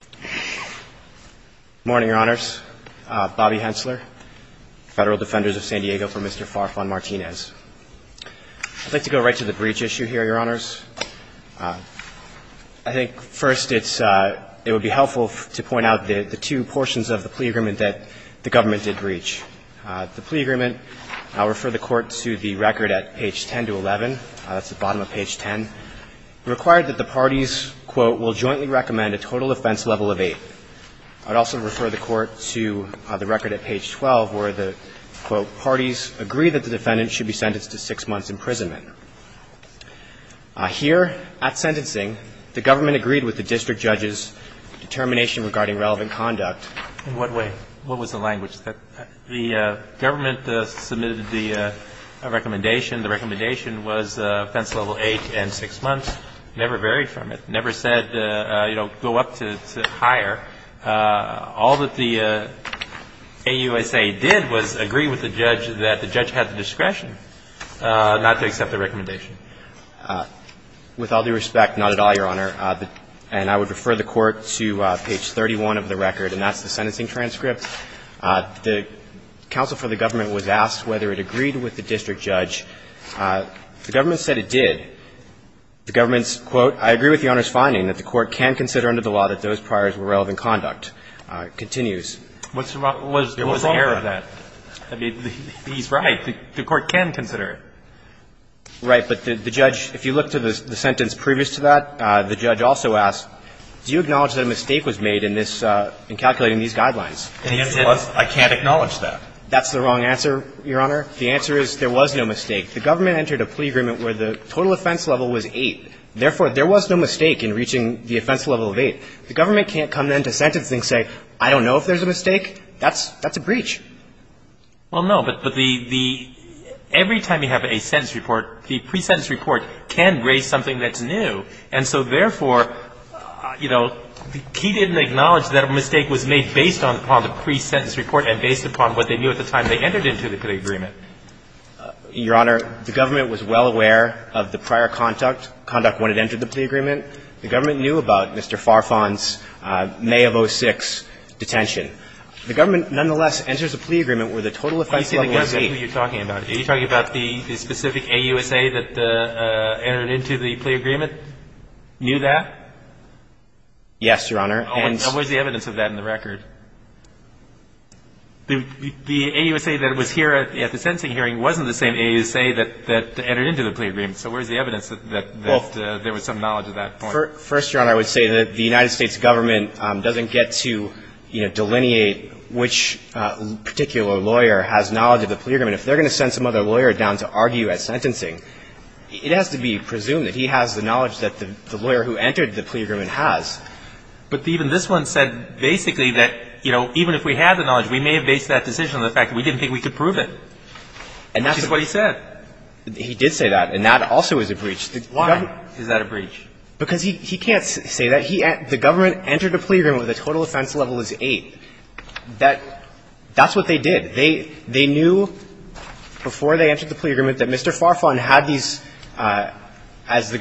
Good morning, Your Honors. Bobby Hensler, Federal Defenders of San Diego, for Mr. Farfan-Martinez. I'd like to go right to the breach issue here, Your Honors. I think, first, it's it would be helpful to point out the two portions of the plea agreement that the government did breach. The plea agreement, I'll refer the Court to the record at page 10 to 11, that's the bottom of page 10, required that the parties, quote, will jointly recommend a total offense level of 8. I'd also refer the Court to the record at page 12, where the, quote, parties agree that the defendant should be sentenced to six months' imprisonment. Here, at sentencing, the government agreed with the district judge's determination regarding relevant conduct. In what way? What was the language? The government submitted the recommendation. The recommendation was offense level 8 and six months. Never varied from it. Never said, you know, go up to higher. All that the AUSA did was agree with the judge that the judge had the discretion not to accept the recommendation. With all due respect, not at all, Your Honor, and I would refer the Court to page 31 of the record, and that's the sentencing transcript. The counsel for the government was asked whether it agreed with the district judge. The government said it did. The government's, quote, I agree with Your Honor's finding that the Court can consider under the law that those priors were relevant conduct, continues. What's wrong with that? I mean, he's right. The Court can consider it. Right. But the judge, if you look to the sentence previous to that, the judge also asked, do you acknowledge that a mistake was made in this, in calculating these guidelines? And he said, I can't acknowledge that. That's the wrong answer, Your Honor. The answer is there was no mistake. The government entered a plea agreement where the total offense level was 8. Therefore, there was no mistake in reaching the offense level of 8. The government can't come in to sentence and say, I don't know if there's a mistake. That's a breach. Well, no. But the — every time you have a sentence report, the pre-sentence report can raise something that's new. And so, therefore, you know, he didn't acknowledge that a mistake was made based upon the pre-sentence report and based upon what they knew at the time they entered into the plea agreement. Your Honor, the government was well aware of the prior conduct when it entered the plea agreement. The government knew about Mr. Farfan's May of 06 detention. The government, nonetheless, enters a plea agreement where the total offense level was 8. I see what you're talking about. Are you talking about the specific AUSA that entered into the plea agreement? Knew that? Yes, Your Honor. And where's the evidence of that in the record? The AUSA that was here at the sentencing hearing wasn't the same AUSA that entered into the plea agreement. So where's the evidence that there was some knowledge at that point? Well, first, Your Honor, I would say that the United States government doesn't get to, you know, delineate which particular lawyer has knowledge of the plea agreement. If they're going to send some other lawyer down to argue at sentencing, it has to be presumed that he has the knowledge that the lawyer who entered the plea agreement has. But even this one said basically that, you know, even if we had the knowledge, we may have based that decision on the fact that we didn't think we could prove it. And that's what he said. He did say that. And that also is a breach. Why is that a breach? Because he can't say that. The government entered a plea agreement where the total offense level is 8. That's what they did. They knew before they entered the plea agreement that Mr. Farfan had these, as the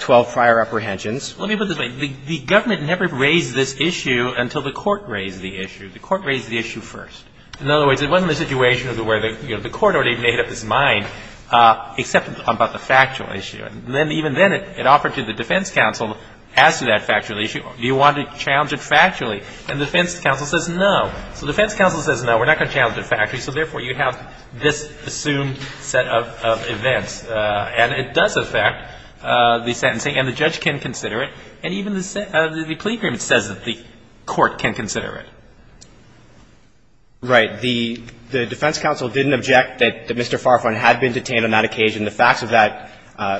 12 prior apprehensions. Let me put it this way. The government never raised this issue until the court raised the issue. The court raised the issue first. In other words, it wasn't a situation where, you know, the court already made up its mind, except about the factual issue. And then even then, it offered to the defense counsel as to that factual issue, do you want to challenge it factually? And the defense counsel says no. So the defense counsel says, no, we're not going to challenge it factually. So therefore, you have this presumed set of events. And it does affect the sentencing. And the judge can consider it. And even the plea agreement says that the court can consider it. Right. The defense counsel didn't object that Mr. Farfan had been detained on that occasion, the facts of that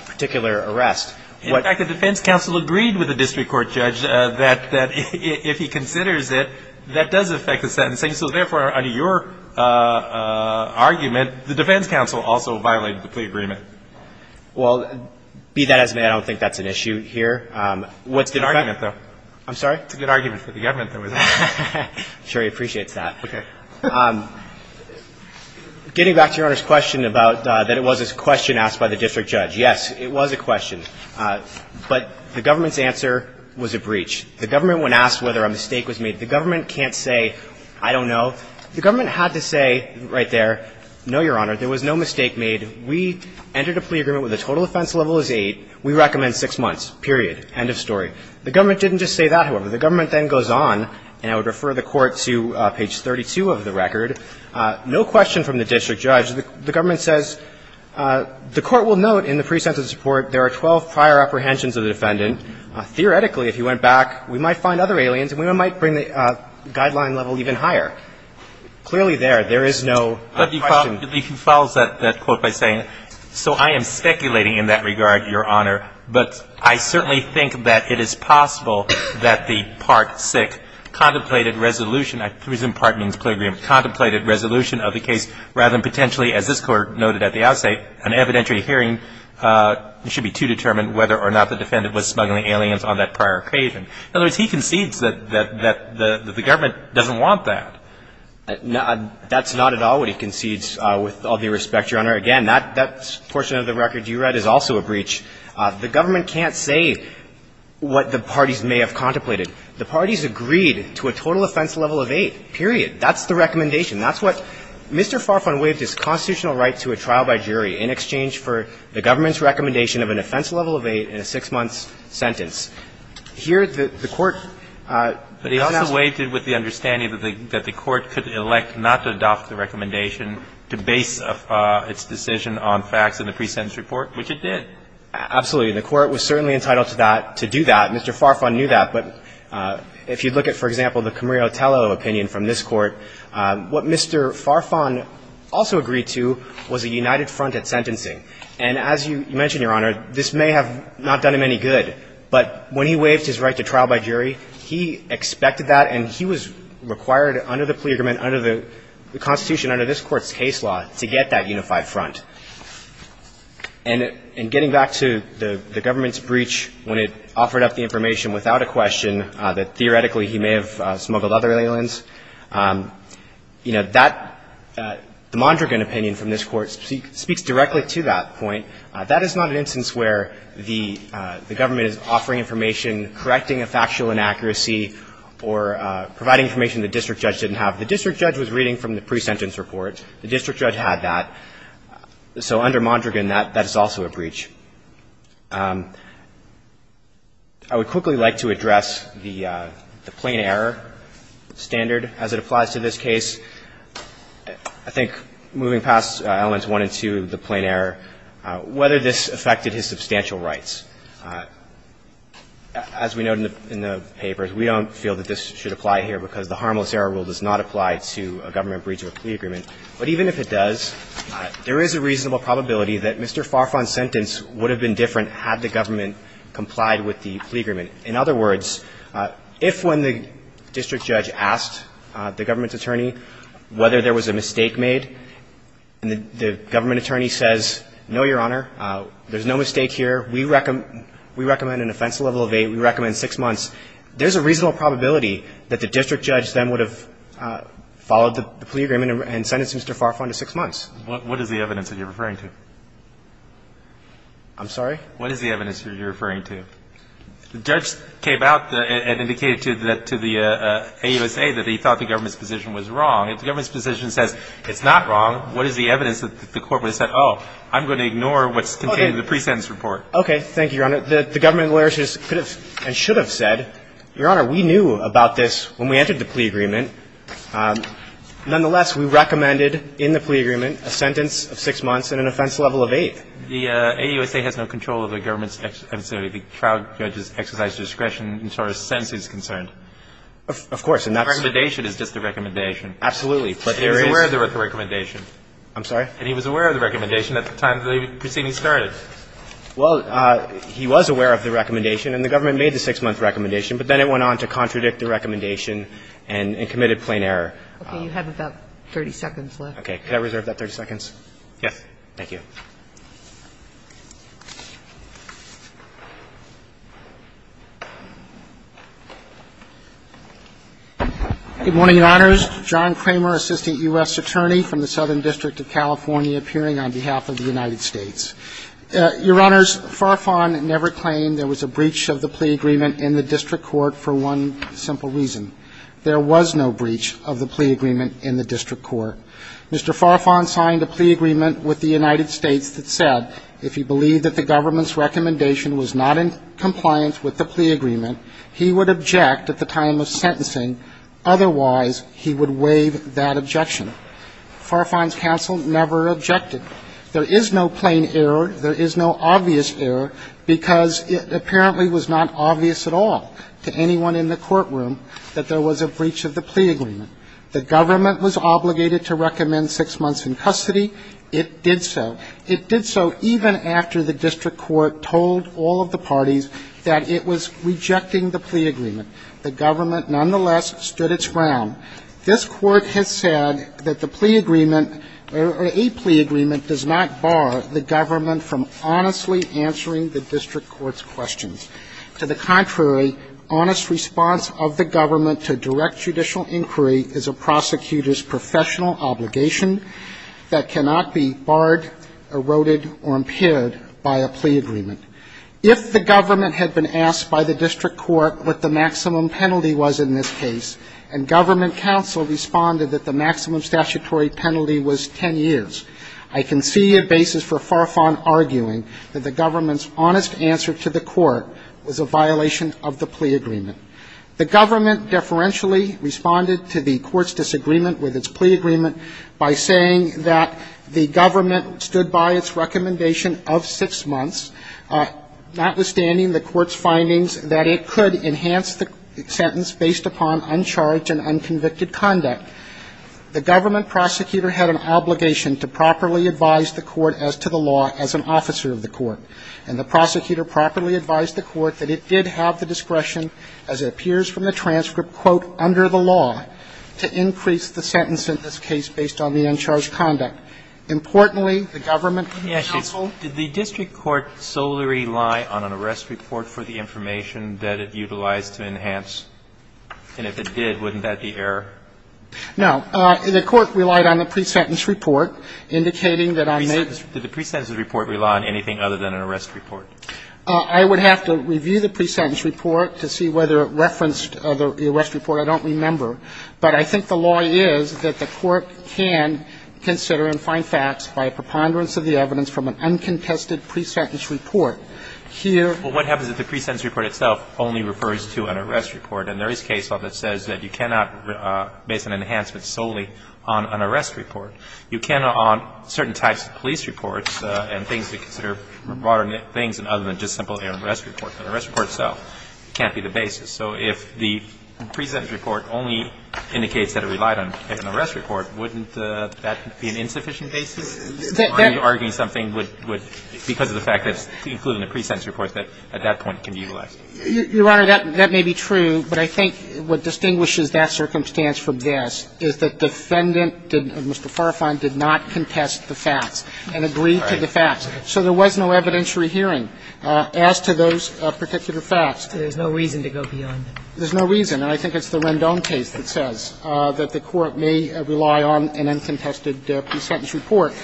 particular arrest. In fact, the defense counsel agreed with the district court judge that if he considers it, that does affect the sentencing. So therefore, under your argument, the defense counsel also violated the plea agreement. Well, be that as it may, I don't think that's an issue here. It's a good argument, though. I'm sorry? It's a good argument for the government, though, isn't it? I'm sure he appreciates that. Okay. Getting back to Your Honor's question about that it was a question asked by the district judge, yes, it was a question. But the government's answer was a breach. The government, when asked whether a mistake was made, the government can't say, I don't know. The government had to say right there, no, Your Honor, there was no mistake made. We entered a plea agreement where the total offense level is 8. We recommend 6 months, period. End of story. The government didn't just say that, however. The government then goes on, and I would refer the Court to page 32 of the record. No question from the district judge. The government says the Court will note in the pre-sentence report there are 12 prior apprehensions of the defendant. Theoretically, if he went back, we might find other aliens and we might bring the guideline level even higher. Clearly there, there is no question. He follows that quote by saying, so I am speculating in that regard, Your Honor, but I certainly think that it is possible that the Part VI contemplated resolution of the case rather than potentially, as this Court noted at the outset, an evidentiary hearing should be to determine whether or not the defendant was smuggling aliens on that prior apprehension. In other words, he concedes that the government doesn't want that. That's not at all what he concedes, with all due respect, Your Honor. Again, that portion of the record you read is also a breach. The government can't say what the parties may have contemplated. The parties agreed to a total offense level of 8, period. That's the recommendation. That's what Mr. Farfan waived, his constitutional right to a trial by jury in exchange for the government's recommendation of an offense level of 8 in a 6-month sentence. Here, the Court announced that. And it did with the understanding that the Court could elect not to adopt the recommendation to base its decision on facts in the pre-sentence report, which it did. Absolutely. The Court was certainly entitled to that, to do that. Mr. Farfan knew that. But if you look at, for example, the Camarillo-Tello opinion from this Court, what Mr. Farfan also agreed to was a united front at sentencing. And as you mentioned, Your Honor, this may have not done him any good, but when he waived his right to trial by jury, he expected that and he was required under the plea agreement, under the Constitution, under this Court's case law, to get that unified front. And getting back to the government's breach when it offered up the information without a question that theoretically he may have smuggled other aliens, you know, that the Mondragon opinion from this Court speaks directly to that point. That is not an instance where the government is offering information, correcting a factual inaccuracy, or providing information the district judge didn't have. The district judge was reading from the pre-sentence report. The district judge had that. So under Mondragon, that is also a breach. I would quickly like to address the plain error standard as it applies to this case. I think moving past elements one and two, the plain error, whether this affected his substantial rights. As we note in the papers, we don't feel that this should apply here because the harmless error rule does not apply to a government breach of a plea agreement. But even if it does, there is a reasonable probability that Mr. Farfan's sentence would have been different had the government complied with the plea agreement. In other words, if when the district judge asked the government's attorney whether there was a mistake made, and the government attorney says, no, Your Honor, there's no mistake here. We recommend an offense level of eight. We recommend six months. There's a reasonable probability that the district judge then would have followed the plea agreement and sentenced Mr. Farfan to six months. What is the evidence that you're referring to? I'm sorry? What is the evidence that you're referring to? The judge came out and indicated to the AUSA that he thought the government's position was wrong. If the government's position says it's not wrong, what is the evidence that the court would have said, oh, I'm going to ignore what's contained in the pre-sentence report? Okay. Thank you, Your Honor. The government lawyers could have and should have said, Your Honor, we knew about this when we entered the plea agreement. Nonetheless, we recommended in the plea agreement a sentence of six months and an offense level of eight. The AUSA has no control over the government's, I'm sorry, the trial judge's exercise discretion as far as sentence is concerned. Of course. The recommendation is just the recommendation. Absolutely. But there is the recommendation. I'm sorry? And he was aware of the recommendation at the time the proceeding started. Well, he was aware of the recommendation, and the government made the six-month recommendation, but then it went on to contradict the recommendation and committed plain error. You have about 30 seconds left. Can I reserve that 30 seconds? Yes. Thank you. Good morning, Your Honors. John Kramer, Assistant U.S. Attorney from the Southern District of California appearing on behalf of the United States. Your Honors, Farfan never claimed there was a breach of the plea agreement in the district court for one simple reason. There was no breach of the plea agreement in the district court. Mr. Farfan signed a plea agreement with the United States that said if he believed that the government's recommendation was not in compliance with the plea agreement, he would object at the time of sentencing, otherwise he would waive that objection. Farfan's counsel never objected. There is no plain error. There is no obvious error because it apparently was not obvious at all to anyone in the courtroom that there was a breach of the plea agreement. The government was obligated to recommend six months in custody. It did so. It did so even after the district court told all of the parties that it was rejecting the plea agreement. The government nonetheless stood its ground. This Court has said that the plea agreement or a plea agreement does not bar the government from honestly answering the district court's questions. To the contrary, honest response of the government to direct judicial inquiry is a prosecutor's professional obligation that cannot be barred, eroded, or impaired by a plea agreement. If the government had been asked by the district court what the maximum penalty was in this case, and government counsel responded that the maximum statutory penalty was 10 years, I can see a basis for Farfan arguing that the government's honest answer to the court was a violation of the plea agreement. The government deferentially responded to the court's disagreement with its plea agreement by saying that the government stood by its recommendation of six months, notwithstanding the court's findings that it could enhance the sentence based upon uncharged and unconvicted conduct. The government prosecutor had an obligation to properly advise the court as to the law as an officer of the court. And the prosecutor properly advised the court that it did have the discretion, as it appears from the transcript, quote, under the law to increase the sentence in this case based on the uncharged conduct. Importantly, the government counsel ---- Alito, did the district court solely rely on an arrest report for the information that it utilized to enhance? And if it did, wouldn't that be error? No. The court relied on the pre-sentence report, indicating that on May ---- Did the pre-sentence report rely on anything other than an arrest report? I would have to review the pre-sentence report to see whether it referenced the arrest report. I don't remember. But I think the law is that the court can consider and find facts by a preponderance of the evidence from an uncontested pre-sentence report. Here ---- Well, what happens if the pre-sentence report itself only refers to an arrest report? And there is case law that says that you cannot base an enhancement solely on an arrest report. You can on certain types of police reports and things that consider modern things other than just simply an arrest report. An arrest report itself can't be the basis. So if the pre-sentence report only indicates that it relied on an arrest report, wouldn't that be an insufficient basis? Are you arguing something would ---- because of the fact that it's included in the pre-sentence report, that at that point it can be utilized? Your Honor, that may be true, but I think what distinguishes that circumstance from this is that defendant, Mr. Farfan, did not contest the facts and agreed to the facts. So there was no evidentiary hearing. As to those particular facts ---- There's no reason to go beyond them. There's no reason. And I think it's the Rendon case that says that the court may rely on an uncontested pre-sentence report.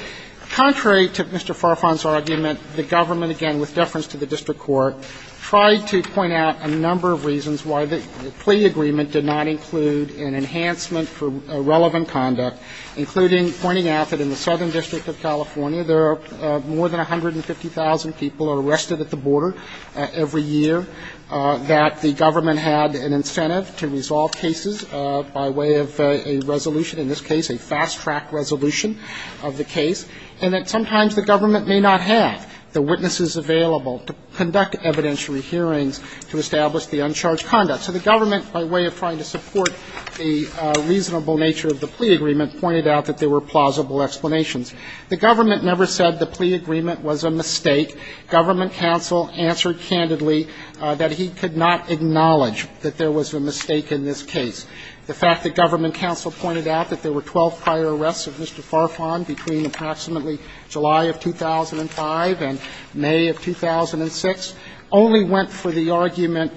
Contrary to Mr. Farfan's argument, the government, again, with deference to the district court, tried to point out a number of reasons why the plea agreement did not include an enhancement for relevant conduct, including pointing out that in the Southern District of California there are more than 150,000 people are arrested at the border every year, that the government had an incentive to resolve cases by way of a resolution, in this case a fast-track resolution of the case, and that sometimes the government may not have the witnesses available to conduct evidentiary hearings to establish the uncharged conduct. So the government, by way of trying to support the reasonable nature of the plea agreement, pointed out that there were plausible explanations. The government never said the plea agreement was a mistake. Government counsel answered candidly that he could not acknowledge that there was a mistake in this case. The fact that government counsel pointed out that there were 12 prior arrests of Mr. Farfan between approximately July of 2005 and May of 2006 only went for the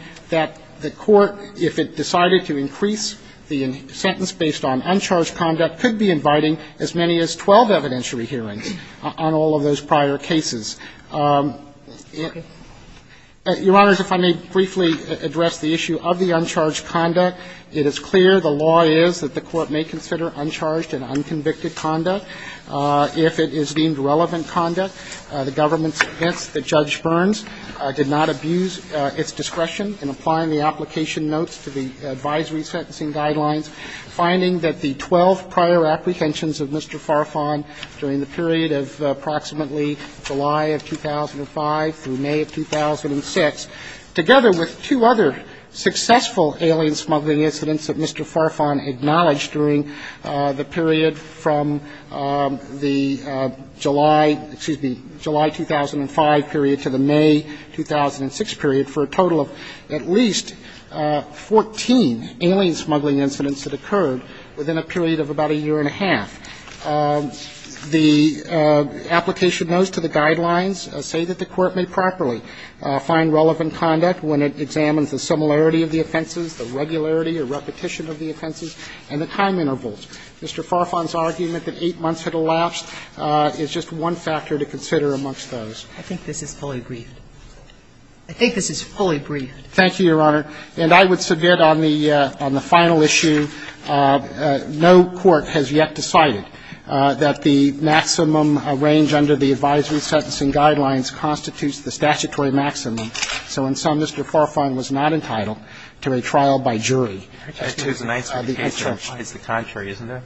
court, if it decided to increase the sentence based on uncharged conduct, could be inviting as many as 12 evidentiary hearings on all of those prior cases. Your Honors, if I may briefly address the issue of the uncharged conduct. It is clear the law is that the court may consider uncharged and unconvicted conduct. If it is deemed relevant conduct, the government's defense that Judge Burns did not abuse its discretion in applying the application notes to the advisory sentencing guidelines, finding that the 12 prior apprehensions of Mr. Farfan during the period of approximately July of 2005 through May of 2006, together with two other successful alien smuggling incidents that Mr. Farfan acknowledged during the period from the July 2005 period to the May 2006 period, for a total of at least 14 alien smuggling incidents that occurred within a period of about a year and a half. The application notes to the guidelines say that the court may properly find relevant conduct when it examines the similarity of the offenses, the regularity or repetition of the offenses, and the time intervals. Mr. Farfan's argument that 8 months had elapsed is just one factor to consider amongst those. I think this is fully briefed. I think this is fully briefed. Thank you, Your Honor. And I would submit on the final issue, no court has yet decided that the maximum range under the advisory sentencing guidelines constitutes the statutory maximum. So in sum, Mr. Farfan was not entitled to a trial by jury. It's the contrary, isn't it?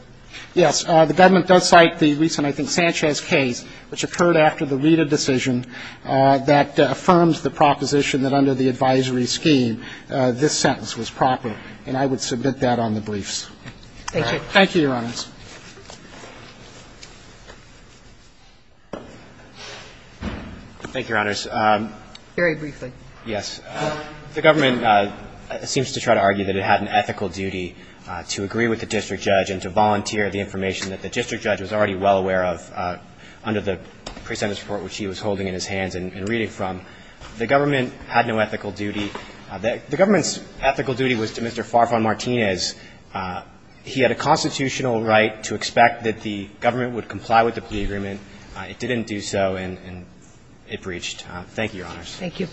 Yes. The government does cite the recent, I think, Sanchez case, which occurred after the Rita decision that affirms the proposition that under the advisory scheme, this sentence was proper. And I would submit that on the briefs. Thank you. Thank you, Your Honors. Thank you, Your Honors. Very briefly. Yes. The government seems to try to argue that it had an ethical duty to agree with the district judge and to volunteer the information that the district judge was already well aware of under the pre-sentence report, which he was holding in his hands and reading from. The government had no ethical duty. The government's ethical duty was to Mr. Farfan Martinez. He had a constitutional right to expect that the government would comply with the plea agreement. It didn't do so, and it breached. Thank you, Your Honors. Thank you.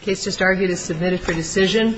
The case just argued is submitted for decision.